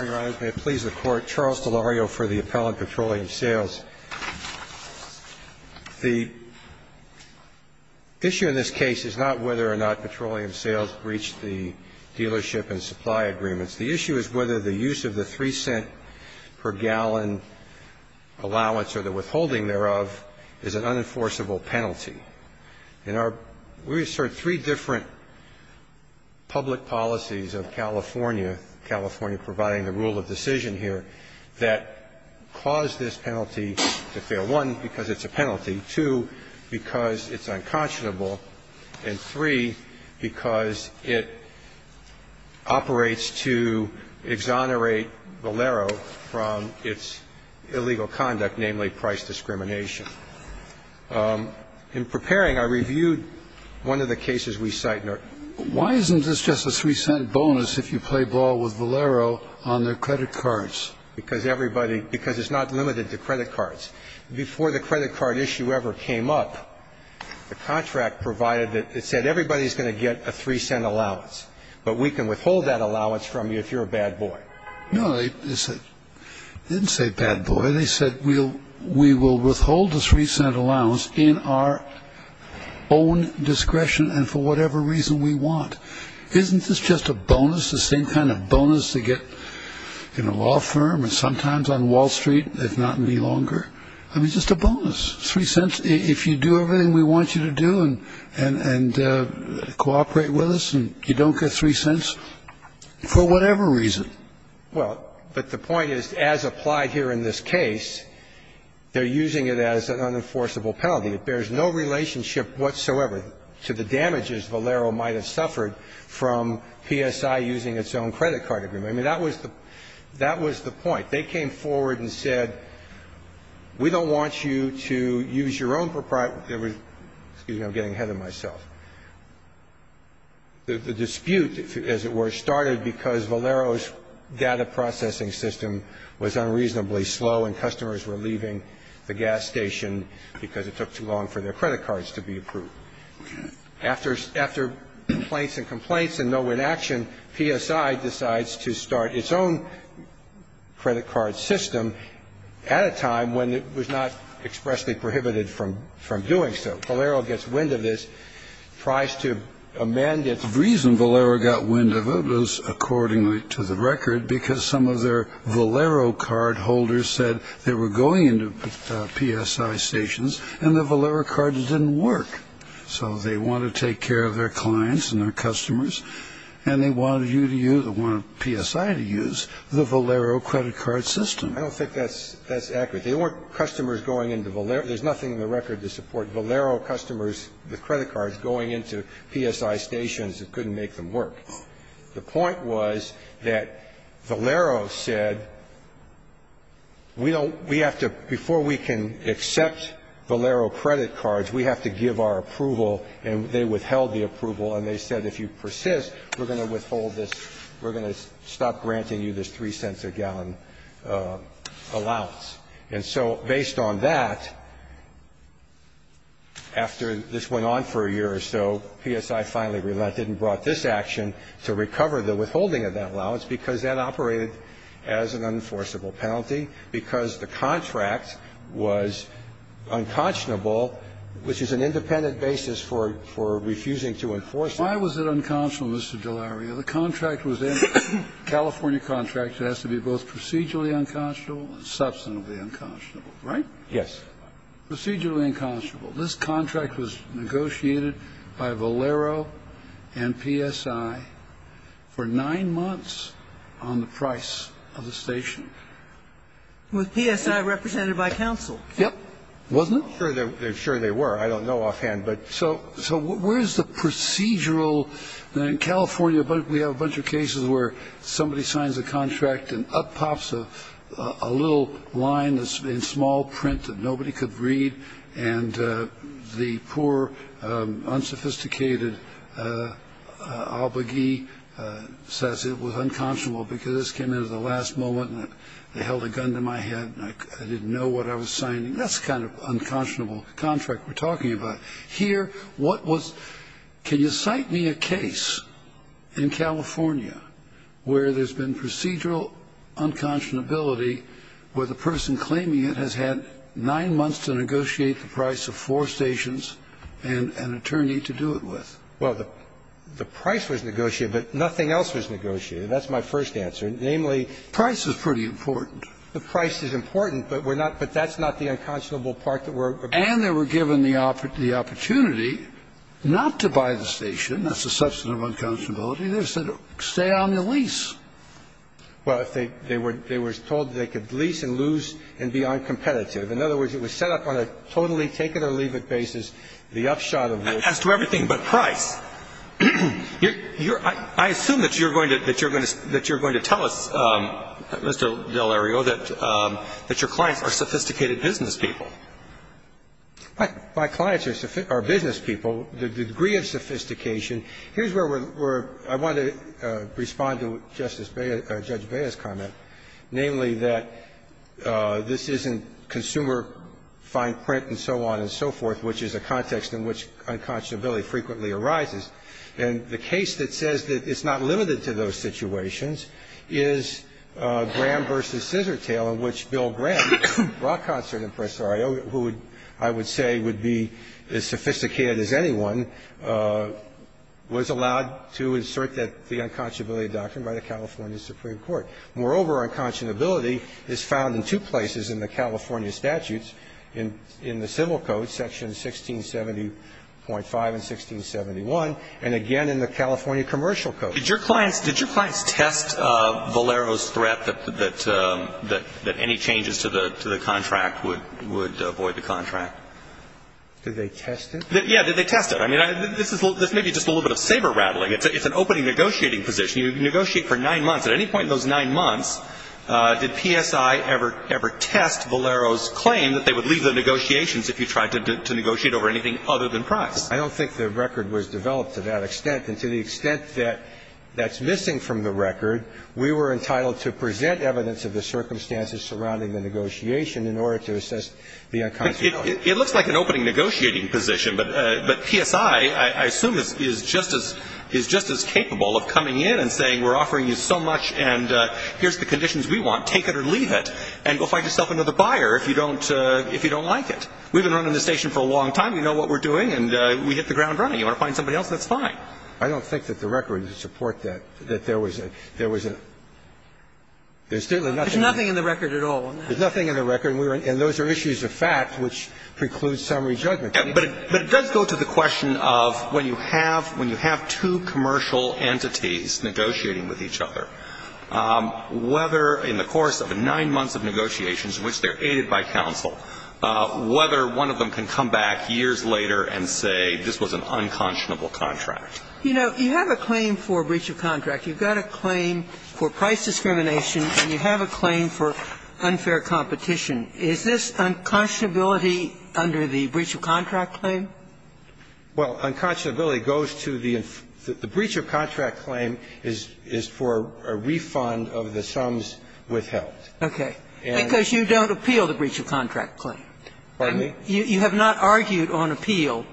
The issue in this case is not whether or not Petroleum Sales reached the dealership and supply agreements. The issue is whether the use of the 3-cent-per-gallon allowance or the withholding thereof is an unenforceable penalty. And we assert three different public policies of California, California providing the rule of decision here, that cause this penalty to fail. One, because it's a penalty. Two, because it's unconscionable. And three, because it operates to exonerate Valero from its illegal conduct, namely price discrimination. In preparing, I reviewed one of the cases we cite. Why isn't this just a 3-cent bonus if you play ball with Valero on their credit cards? Because everybody – because it's not limited to credit cards. Before the credit card issue ever came up, the contract provided that – it said everybody's going to get a 3-cent allowance, but we can withhold that allowance from you if you're a bad boy. No, they didn't say bad boy. They said we will withhold the 3-cent allowance in our own discretion and for whatever reason we want. Isn't this just a bonus, the same kind of bonus they get in a law firm and sometimes on Wall Street, if not any longer? I mean, just a bonus, 3 cents, if you do everything we want you to do and cooperate with us and you don't get 3 cents for whatever reason. Well, but the point is, as applied here in this case, they're using it as an unenforceable penalty. It bears no relationship whatsoever to the damages Valero might have suffered from PSI using its own credit card agreement. I mean, that was the point. They came forward and said, we don't want you to use your own – excuse me, I'm getting ahead of myself. The dispute, as it were, started because Valero's data processing system was unreasonably slow and customers were leaving the gas station because it took too long for their credit cards to be approved. After complaints and complaints and no inaction, PSI decides to start its own credit card system at a time when it was not expressly prohibited from doing so. Valero gets wind of this, tries to amend its – The reason Valero got wind of it was, accordingly to the record, because some of their So they want to take care of their clients and their customers and they wanted you to use – they wanted PSI to use the Valero credit card system. I don't think that's accurate. They weren't customers going into Valero. There's nothing in the record to support Valero customers with credit cards going into PSI stations that couldn't make them work. The point was that Valero said, we don't – we have to – before we can accept Valero credit cards, we have to give our approval. And they withheld the approval and they said, if you persist, we're going to withhold this – we're going to stop granting you this three cents a gallon allowance. And so based on that, after this went on for a year or so, PSI finally relented and brought this action to recover the withholding of that allowance because that operated as an unenforceable penalty, because the contract was unconscionable, which is an independent basis for – for refusing to enforce it. Why was it unconscionable, Mr. DeLaria? The contract was a California contract. It has to be both procedurally unconscionable and substantively unconscionable, right? Yes. Procedurally unconscionable. This contract was negotiated by Valero and PSI for nine months on the price of the station. With PSI represented by counsel. Yep. Wasn't it? Sure they were. I don't know offhand. So where is the procedural? In California, we have a bunch of cases where somebody signs a contract and up pops a little line in small print that nobody could read and the poor, unsophisticated obligee says it was unconscionable because this came in at the last moment and they held a gun to my head and I didn't know what I was signing. That's the kind of unconscionable contract we're talking about. Here, what was – can you cite me a case in California where there's been procedural unconscionability where the person claiming it has had nine months to negotiate the price of four stations and an attorney to do it with? Well, the price was negotiated, but nothing else was negotiated. That's my first answer. Namely – Price is pretty important. The price is important, but we're not – but that's not the unconscionable part that we're – And they were given the opportunity not to buy the station. That's a substantive unconscionability. They were said, stay on your lease. Well, they were told they could lease and lose and be uncompetitive. In other words, it was set up on a totally take-it-or-leave-it basis. The upshot of the – As to everything but price. Your – I assume that you're going to – that you're going to tell us, Mr. Delario, that your clients are sophisticated business people. My clients are business people. The degree of sophistication – here's where we're – I want to respond to Justice Bea – Judge Bea's comment, namely that this isn't consumer fine print and so on and so forth, which is a context in which unconscionability frequently arises. And the case that says that it's not limited to those situations is Graham v. Scissortail, in which Bill Graham, rock concert impresario, who I would say would be as sophisticated as anyone, was allowed to insert the unconscionability doctrine by the California Supreme Court. Moreover, unconscionability is found in two places in the California statutes. In the civil code, sections 1670.5 and 1671, and again in the California commercial code. Did your clients – did your clients test Valero's threat that any changes to the contract would avoid the contract? Did they test it? Yeah, did they test it? I mean, this is – this may be just a little bit of saber-rattling. It's an opening negotiating position. You negotiate for nine months. At any point in those nine months, did PSI ever test Valero's claim that they would leave the negotiations if you tried to negotiate over anything other than price? I don't think the record was developed to that extent. And to the extent that that's missing from the record, we were entitled to present evidence of the circumstances surrounding the negotiation in order to assess the unconscionability. It looks like an opening negotiating position, but PSI, I assume, is just as – is We've been running the station for a long time. We know what we're doing, and we hit the ground running. You want to find somebody else, that's fine. I don't think that the record would support that, that there was a – there was a – There's nothing in the record at all on that. There's nothing in the record, and we were – and those are issues of fact which preclude summary judgment. But it does go to the question of when you have – when you have two commercial entities negotiating with each other, there's a problem. Whether in the course of nine months of negotiations in which they're aided by counsel, whether one of them can come back years later and say this was an unconscionable contract. You know, you have a claim for breach of contract. You've got a claim for price discrimination, and you have a claim for unfair competition. Is this unconscionability under the breach of contract claim? Well, unconscionability goes to the – the breach of contract claim is for a refund of the sums withheld. Okay. Because you don't appeal the breach of contract claim. Pardon me? You have not argued on appeal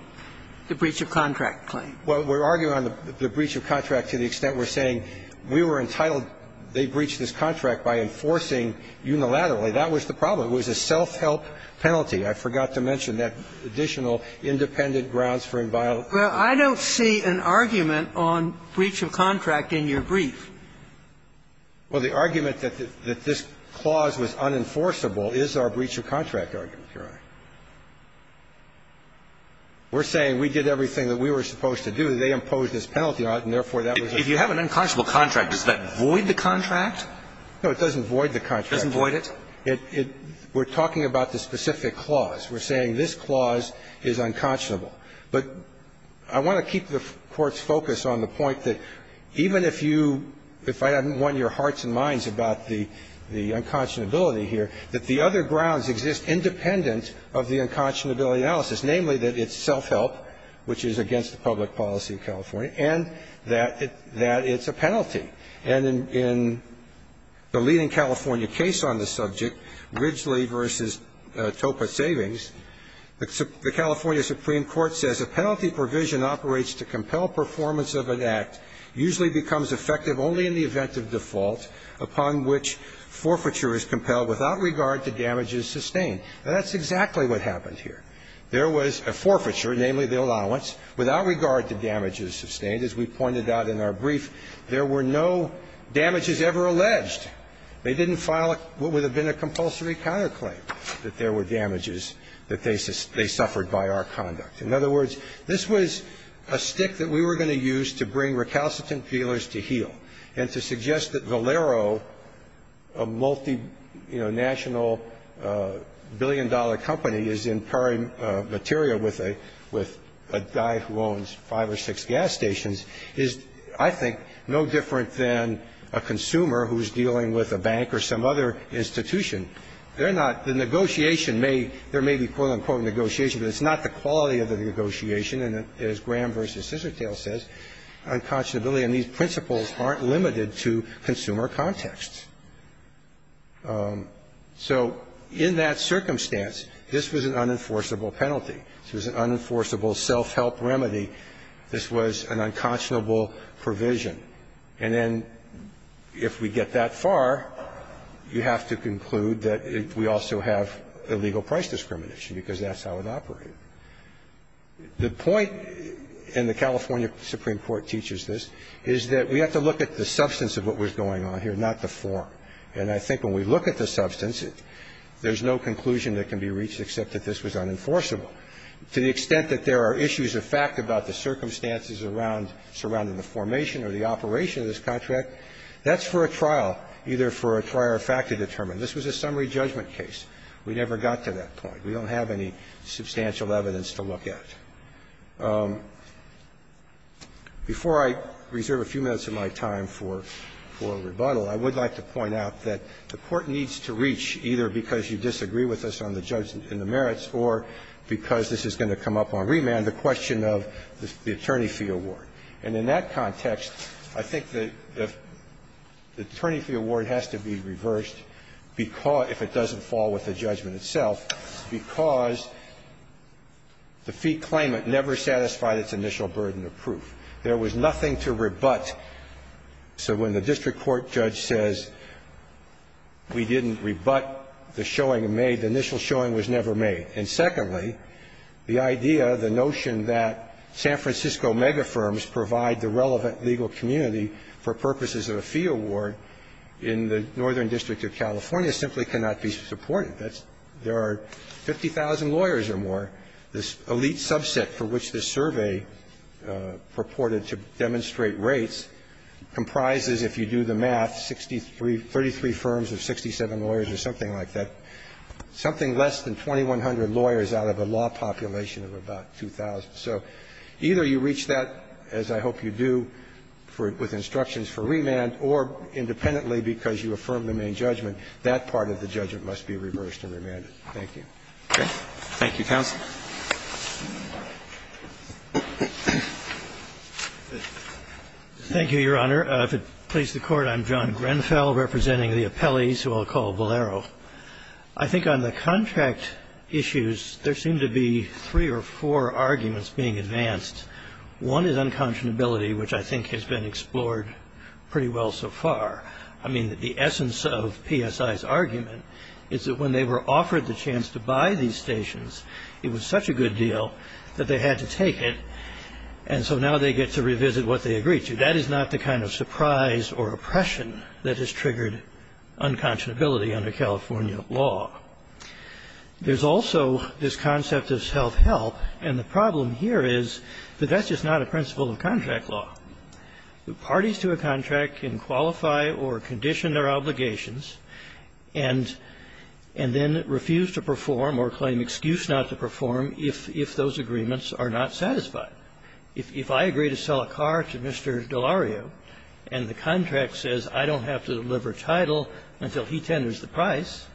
the breach of contract claim. Well, we're arguing on the breach of contract to the extent we're saying we were entitled – they breached this contract by enforcing unilaterally. That was the problem. It was a self-help penalty. I forgot to mention that additional independent grounds for inviolate. Well, I don't see an argument on breach of contract in your brief. Well, the argument that this clause was unenforceable is our breach of contract argument, Your Honor. We're saying we did everything that we were supposed to do. They imposed this penalty on it, and therefore, that was a – If you have an unconscionable contract, does that void the contract? No, it doesn't void the contract. It doesn't void it? Well, it – we're talking about the specific clause. We're saying this clause is unconscionable. But I want to keep the Court's focus on the point that even if you – if I hadn't won your hearts and minds about the unconscionability here, that the other grounds exist independent of the unconscionability analysis, namely that it's self-help, which is against the public policy in California, and that it's a penalty. And in the leading California case on this subject, Ridgley v. Topaz Savings, the California Supreme Court says, A penalty provision operates to compel performance of an act usually becomes effective only in the event of default upon which forfeiture is compelled without regard to damages sustained. Now, that's exactly what happened here. There was a forfeiture, namely the allowance, without regard to damages sustained. As we pointed out in our brief, there were no damages ever alleged. They didn't file what would have been a compulsory counterclaim, that there were damages that they suffered by our conduct. In other words, this was a stick that we were going to use to bring recalcitrant feelers to heel and to suggest that Valero, a multinational billion-dollar company, is empowering material with a guy who owns five or six gas stations, is, I think, no different than a consumer who's dealing with a bank or some other institution. They're not the negotiation may be, there may be, quote, unquote, negotiation, but it's not the quality of the negotiation. And as Graham v. Scissortail says, unconscionability and these principles aren't limited to consumer contexts. So in that circumstance, this was an unenforceable penalty. This was an unenforceable self-help remedy. This was an unconscionable provision. And then if we get that far, you have to conclude that we also have illegal price discrimination, because that's how it operated. The point, and the California Supreme Court teaches this, is that we have to look at the substance of what was going on here, not the form. And I think when we look at the substance, there's no conclusion that can be reached except that this was unenforceable. To the extent that there are issues of fact about the circumstances around the formation or the operation of this contract, that's for a trial, either for a prior fact to determine. This was a summary judgment case. We never got to that point. We don't have any substantial evidence to look at. Before I reserve a few minutes of my time for rebuttal, I would like to point out that the Court needs to reach either because you disagree with us on the judgment and the merits, or because this is going to come up on remand, the question of the attorney fee award. And in that context, I think that the attorney fee award has to be reversed, because, if it doesn't fall with the judgment itself, because the fee claimant never satisfied its initial burden of proof. There was nothing to rebut. So when the district court judge says we didn't rebut the showing in May, the initial showing was never made. And secondly, the idea, the notion that San Francisco megafirms provide the relevant legal community for purposes of a fee award in the Northern District of California simply cannot be supported. There are 50,000 lawyers or more. This elite subset for which this survey purported to demonstrate rates comprises, if you do the math, 33 firms of 67 lawyers or something like that. Something less than 2,100 lawyers out of a law population of about 2,000. So either you reach that, as I hope you do, with instructions for remand, or independently because you affirmed the main judgment, that part of the judgment must be reversed and remanded. Thank you. Roberts. Thank you, counsel. Thank you, Your Honor. If it pleases the Court, I'm John Grenfell representing the appellees who I'll call Valero. I think on the contract issues, there seem to be three or four arguments being advanced. One is unconscionability, which I think has been explored pretty well so far. I mean, the essence of PSI's argument is that when they were offered the chance to buy these stations, it was such a good deal that they had to take it. And so now they get to revisit what they agreed to. That is not the kind of surprise or oppression that has triggered unconscionability under California law. There's also this concept of self-help. And the problem here is that that's just not a principle of contract law. Parties to a contract can qualify or condition their obligations and then refuse to perform or claim excuse not to perform if those agreements are not satisfied. If I agree to sell a car to Mr. Delario and the contract says I don't have to deliver a title until he tenders the price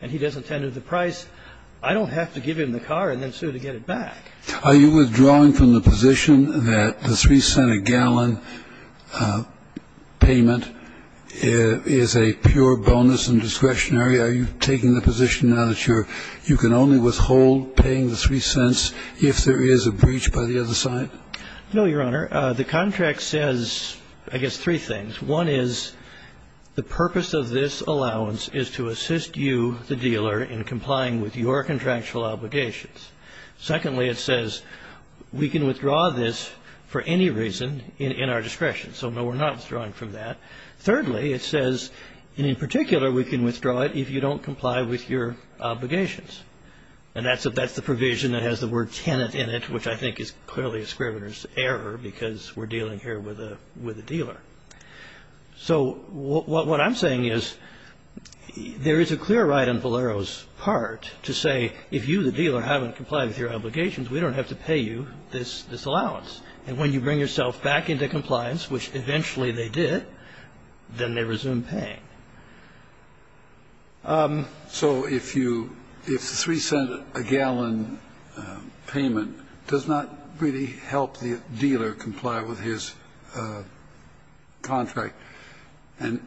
and he doesn't tender the price, I don't have to give him the car and then sue to get it back. Are you withdrawing from the position that the 3-cent-a-gallon payment is a pure bonus and discretionary? Are you taking the position now that you're you can only withhold paying the 3 cents if there is a breach by the other side? No, Your Honor. The contract says, I guess, three things. One is the purpose of this allowance is to assist you, the dealer, in complying with your contractual obligations. Secondly, it says we can withdraw this for any reason in our discretion. So, no, we're not withdrawing from that. Thirdly, it says in particular we can withdraw it if you don't comply with your obligations. And that's the provision that has the word tenant in it, which I think is clearly a So what I'm saying is there is a clear right on Valero's part to say if you, the dealer, haven't complied with your obligations, we don't have to pay you this allowance. And when you bring yourself back into compliance, which eventually they did, then they resume paying. So if you if the 3-cent-a-gallon payment does not really help the dealer comply with his contract, and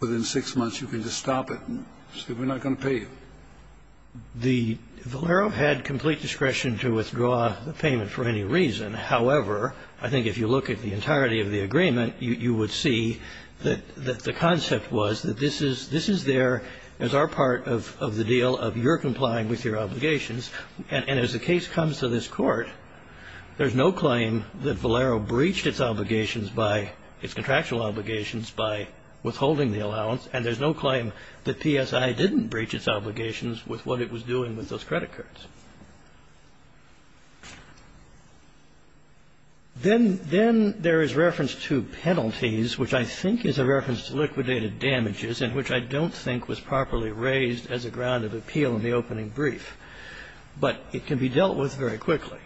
within six months you can just stop it and say we're not going to pay you. The Valero had complete discretion to withdraw the payment for any reason. However, I think if you look at the entirety of the agreement, you would see that the concept was that this is there as our part of the deal of your complying with your obligations. And as the case comes to this court, there's no claim that Valero breached its obligations by its contractual obligations by withholding the allowance. And there's no claim that PSI didn't breach its obligations with what it was doing with those credit cards. Then there is reference to penalties, which I think is a reference to liquidated damages in which I don't think was properly raised as a ground of appeal in the opening brief. But it can be dealt with very quickly.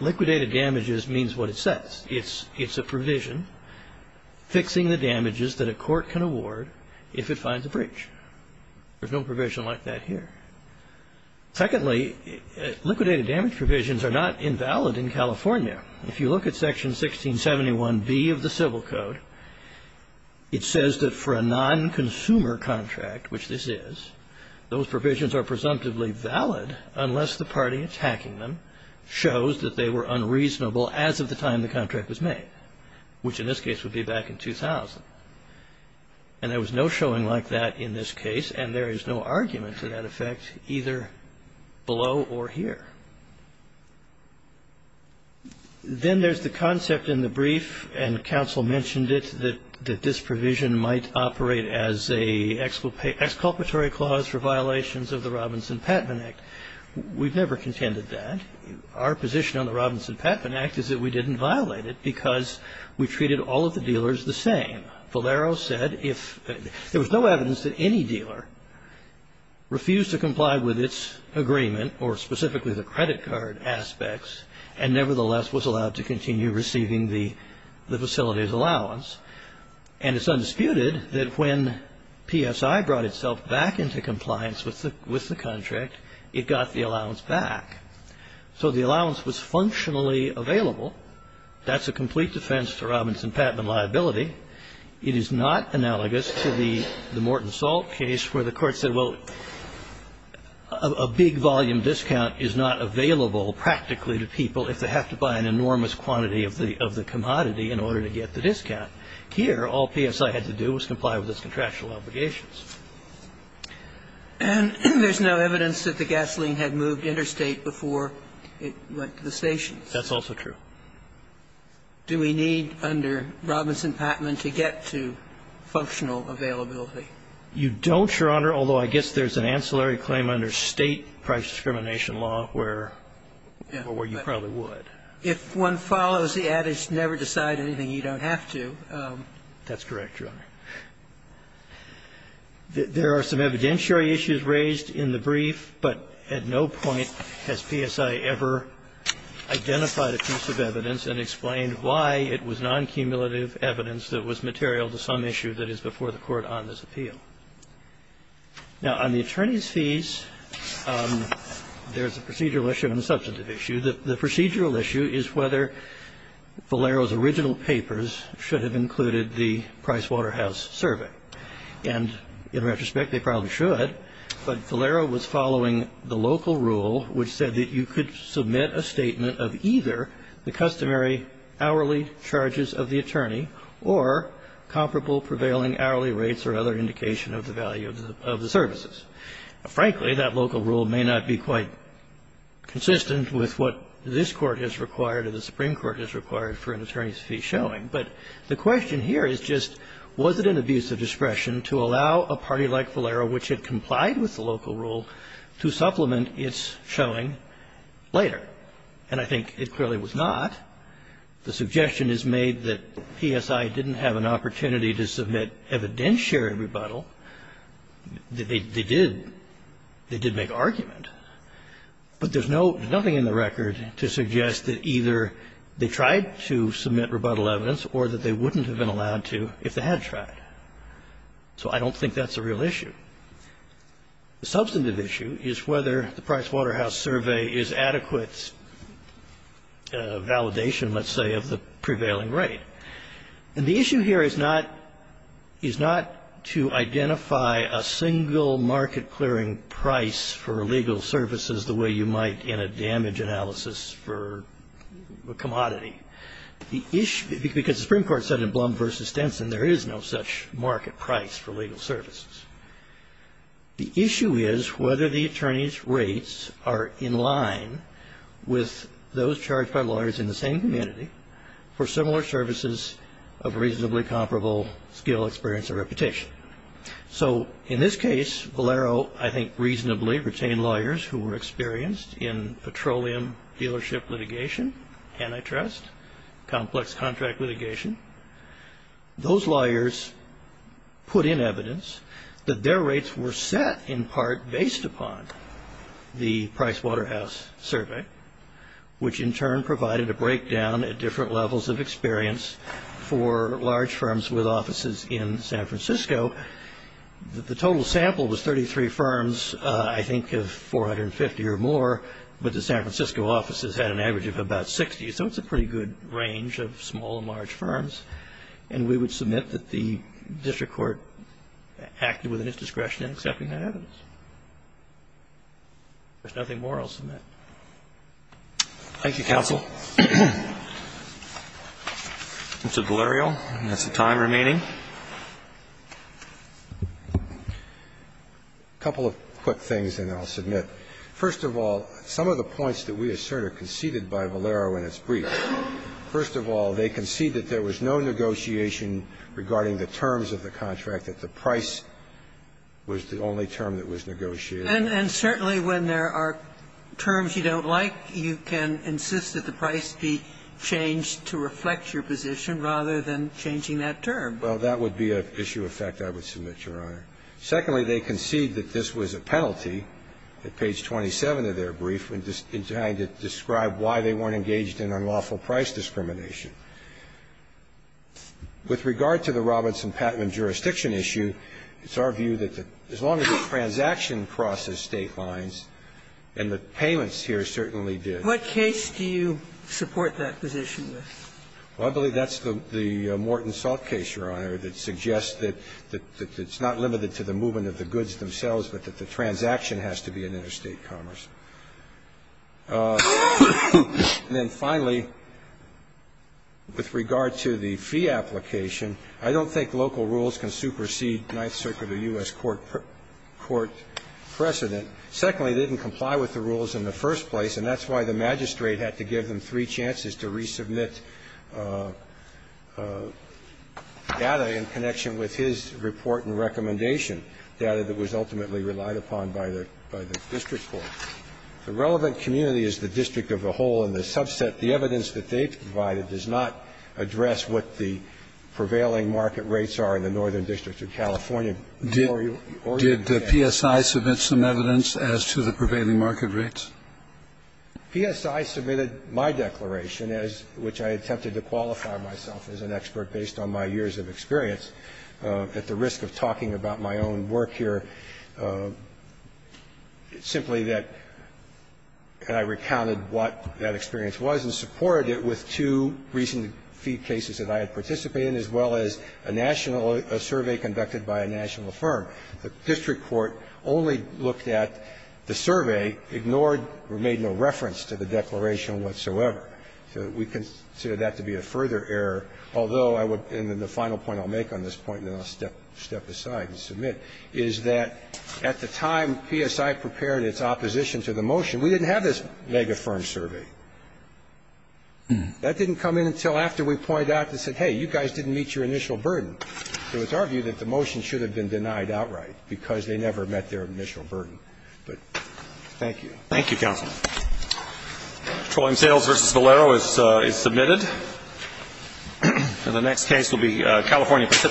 Liquidated damages means what it says. It's a provision fixing the damages that a court can award if it finds a breach. There's no provision like that here. Secondly, liquidated damage provisions are not invalid in California. If you look at Section 1671B of the Civil Code, it says that for a non-consumer contract, which this is, those provisions are presumptively valid unless the party attacking them shows that they were unreasonable as of the time the contract was made, which in this case would be back in 2000. And there was no showing like that in this case. And there is no argument for that effect either below or here. Then there's the concept in the brief, and counsel mentioned it, that this provision might operate as a exculpatory clause for violations of the Robinson-Pattman Act. We've never contended that. Our position on the Robinson-Pattman Act is that we didn't violate it because we treated all of the dealers the same. Valero said if there was no evidence that any dealer refused to comply with its agreement or specifically the credit card aspects, and nevertheless was allowed to continue receiving the facility's allowance. And it's undisputed that when PSI brought itself back into compliance with the contract, it got the allowance back. So the allowance was functionally available. That's a complete defense to Robinson-Pattman liability. It is not analogous to the Morton Salt case where the court said, well, a big volume discount is not available practically to people if they have to buy an enormous quantity of the commodity in order to get the discount. Here, all PSI had to do was comply with its contractual obligations. And there's no evidence that the gasoline had moved interstate before it went to the stations. That's also true. Do we need under Robinson-Pattman to get to functional availability? You don't, Your Honor, although I guess there's an ancillary claim under State price discrimination law where you probably would. If one follows the adage, never decide anything you don't have to. That's correct, Your Honor. There are some evidentiary issues raised in the brief, but at no point has PSI ever identified a piece of evidence and explained why it was noncumulative evidence that was material to some issue that is before the court on this appeal. Now, on the attorney's fees, there's a procedural issue and a substantive issue. The procedural issue is whether Valero's original papers should have included the Price Waterhouse survey. And in retrospect, they probably should. But Valero was following the local rule which said that you could submit a statement of either the customary hourly charges of the attorney or comparable prevailing hourly rates or other indication of the value of the services. Frankly, that local rule may not be quite consistent with what this Court has required or the Supreme Court has required for an attorney's fee showing. But the question here is just, was it an abuse of discretion to allow a party like Valero, which had complied with the local rule, to supplement its showing later? And I think it clearly was not. The suggestion is made that PSI didn't have an opportunity to submit evidentiary rebuttal. They did. They did make argument. But there's nothing in the record to suggest that either they tried to submit rebuttal evidence or that they wouldn't have been allowed to if they had tried. So I don't think that's a real issue. The substantive issue is whether the Price Waterhouse Survey is adequate validation, let's say, of the prevailing rate. And the issue here is not to identify a single market-clearing price for legal services the way you might in a damage analysis for a commodity. The issue, because the Supreme Court said in Blum v. Stenson there is no such market price for legal services. The issue is whether the attorney's rates are in line with those charged by lawyers in the same community for similar services of reasonably comparable skill, experience, or reputation. So in this case, Valero, I think, reasonably retained lawyers who were experienced in petroleum dealership litigation, antitrust, complex contract litigation. Those lawyers put in evidence that their rates were set in part based upon the Price Waterhouse Survey, which in turn provided a breakdown at different levels of experience for large firms with offices in San Francisco. The total sample was 33 firms, I think of 450 or more, but the San Francisco offices had an average of about 60. So it's a pretty good range of small and large firms. And we would submit that the district court acted within its discretion in accepting that evidence. If there's nothing more, I'll submit. Roberts. Thank you, counsel. Mr. Galerio, that's the time remaining. A couple of quick things, and then I'll submit. First of all, some of the points that we assert are conceded by Valero in its brief. First of all, they concede that there was no negotiation regarding the terms of the contract, that the price was the only term that was negotiated. And certainly, when there are terms you don't like, you can insist that the price be changed to reflect your position rather than changing that term. Well, that would be an issue of fact I would submit, Your Honor. Secondly, they concede that this was a penalty at page 27 of their brief in trying to describe why they weren't engaged in unlawful price discrimination. With regard to the Robinson Patent and Jurisdiction issue, it's our view that as long as the transaction crosses State lines, and the payments here certainly did. What case do you support that position with? Well, I believe that's the Morton Salt case, Your Honor, that suggests that it's not limited to the movement of the goods themselves, but that the transaction has to be an interstate commerce. And then finally, with regard to the fee application, I don't think local rules can supersede Ninth Circuit or U.S. court precedent. Secondly, they didn't comply with the rules in the first place, and that's why the magistrate had to give them three chances to resubmit their own data in connection with his report and recommendation, data that was ultimately relied upon by the district court. The relevant community is the district of the whole, and the subset, the evidence that they provided, does not address what the prevailing market rates are in the Northern District of California. Did PSI submit some evidence as to the prevailing market rates? PSI submitted my declaration, as to which I attempted to qualify myself as an expert based on my years of experience, at the risk of talking about my own work here. It's simply that I recounted what that experience was and supported it with two recent fee cases that I had participated in, as well as a national – a survey conducted by a national firm. The district court only looked at the survey, ignored or made no reference to the declaration whatsoever. So we consider that to be a further error, although I would – and then the final point I'll make on this point, and then I'll step aside and submit, is that at the time PSI prepared its opposition to the motion, we didn't have this mega firm survey. That didn't come in until after we pointed out and said, hey, you guys didn't meet your initial burden. So it's our view that the motion should have been denied outright because they never met their initial burden. But thank you. Thank you, counsel. Petroleum Sales v. Valero is submitted. And the next case will be California Pacific.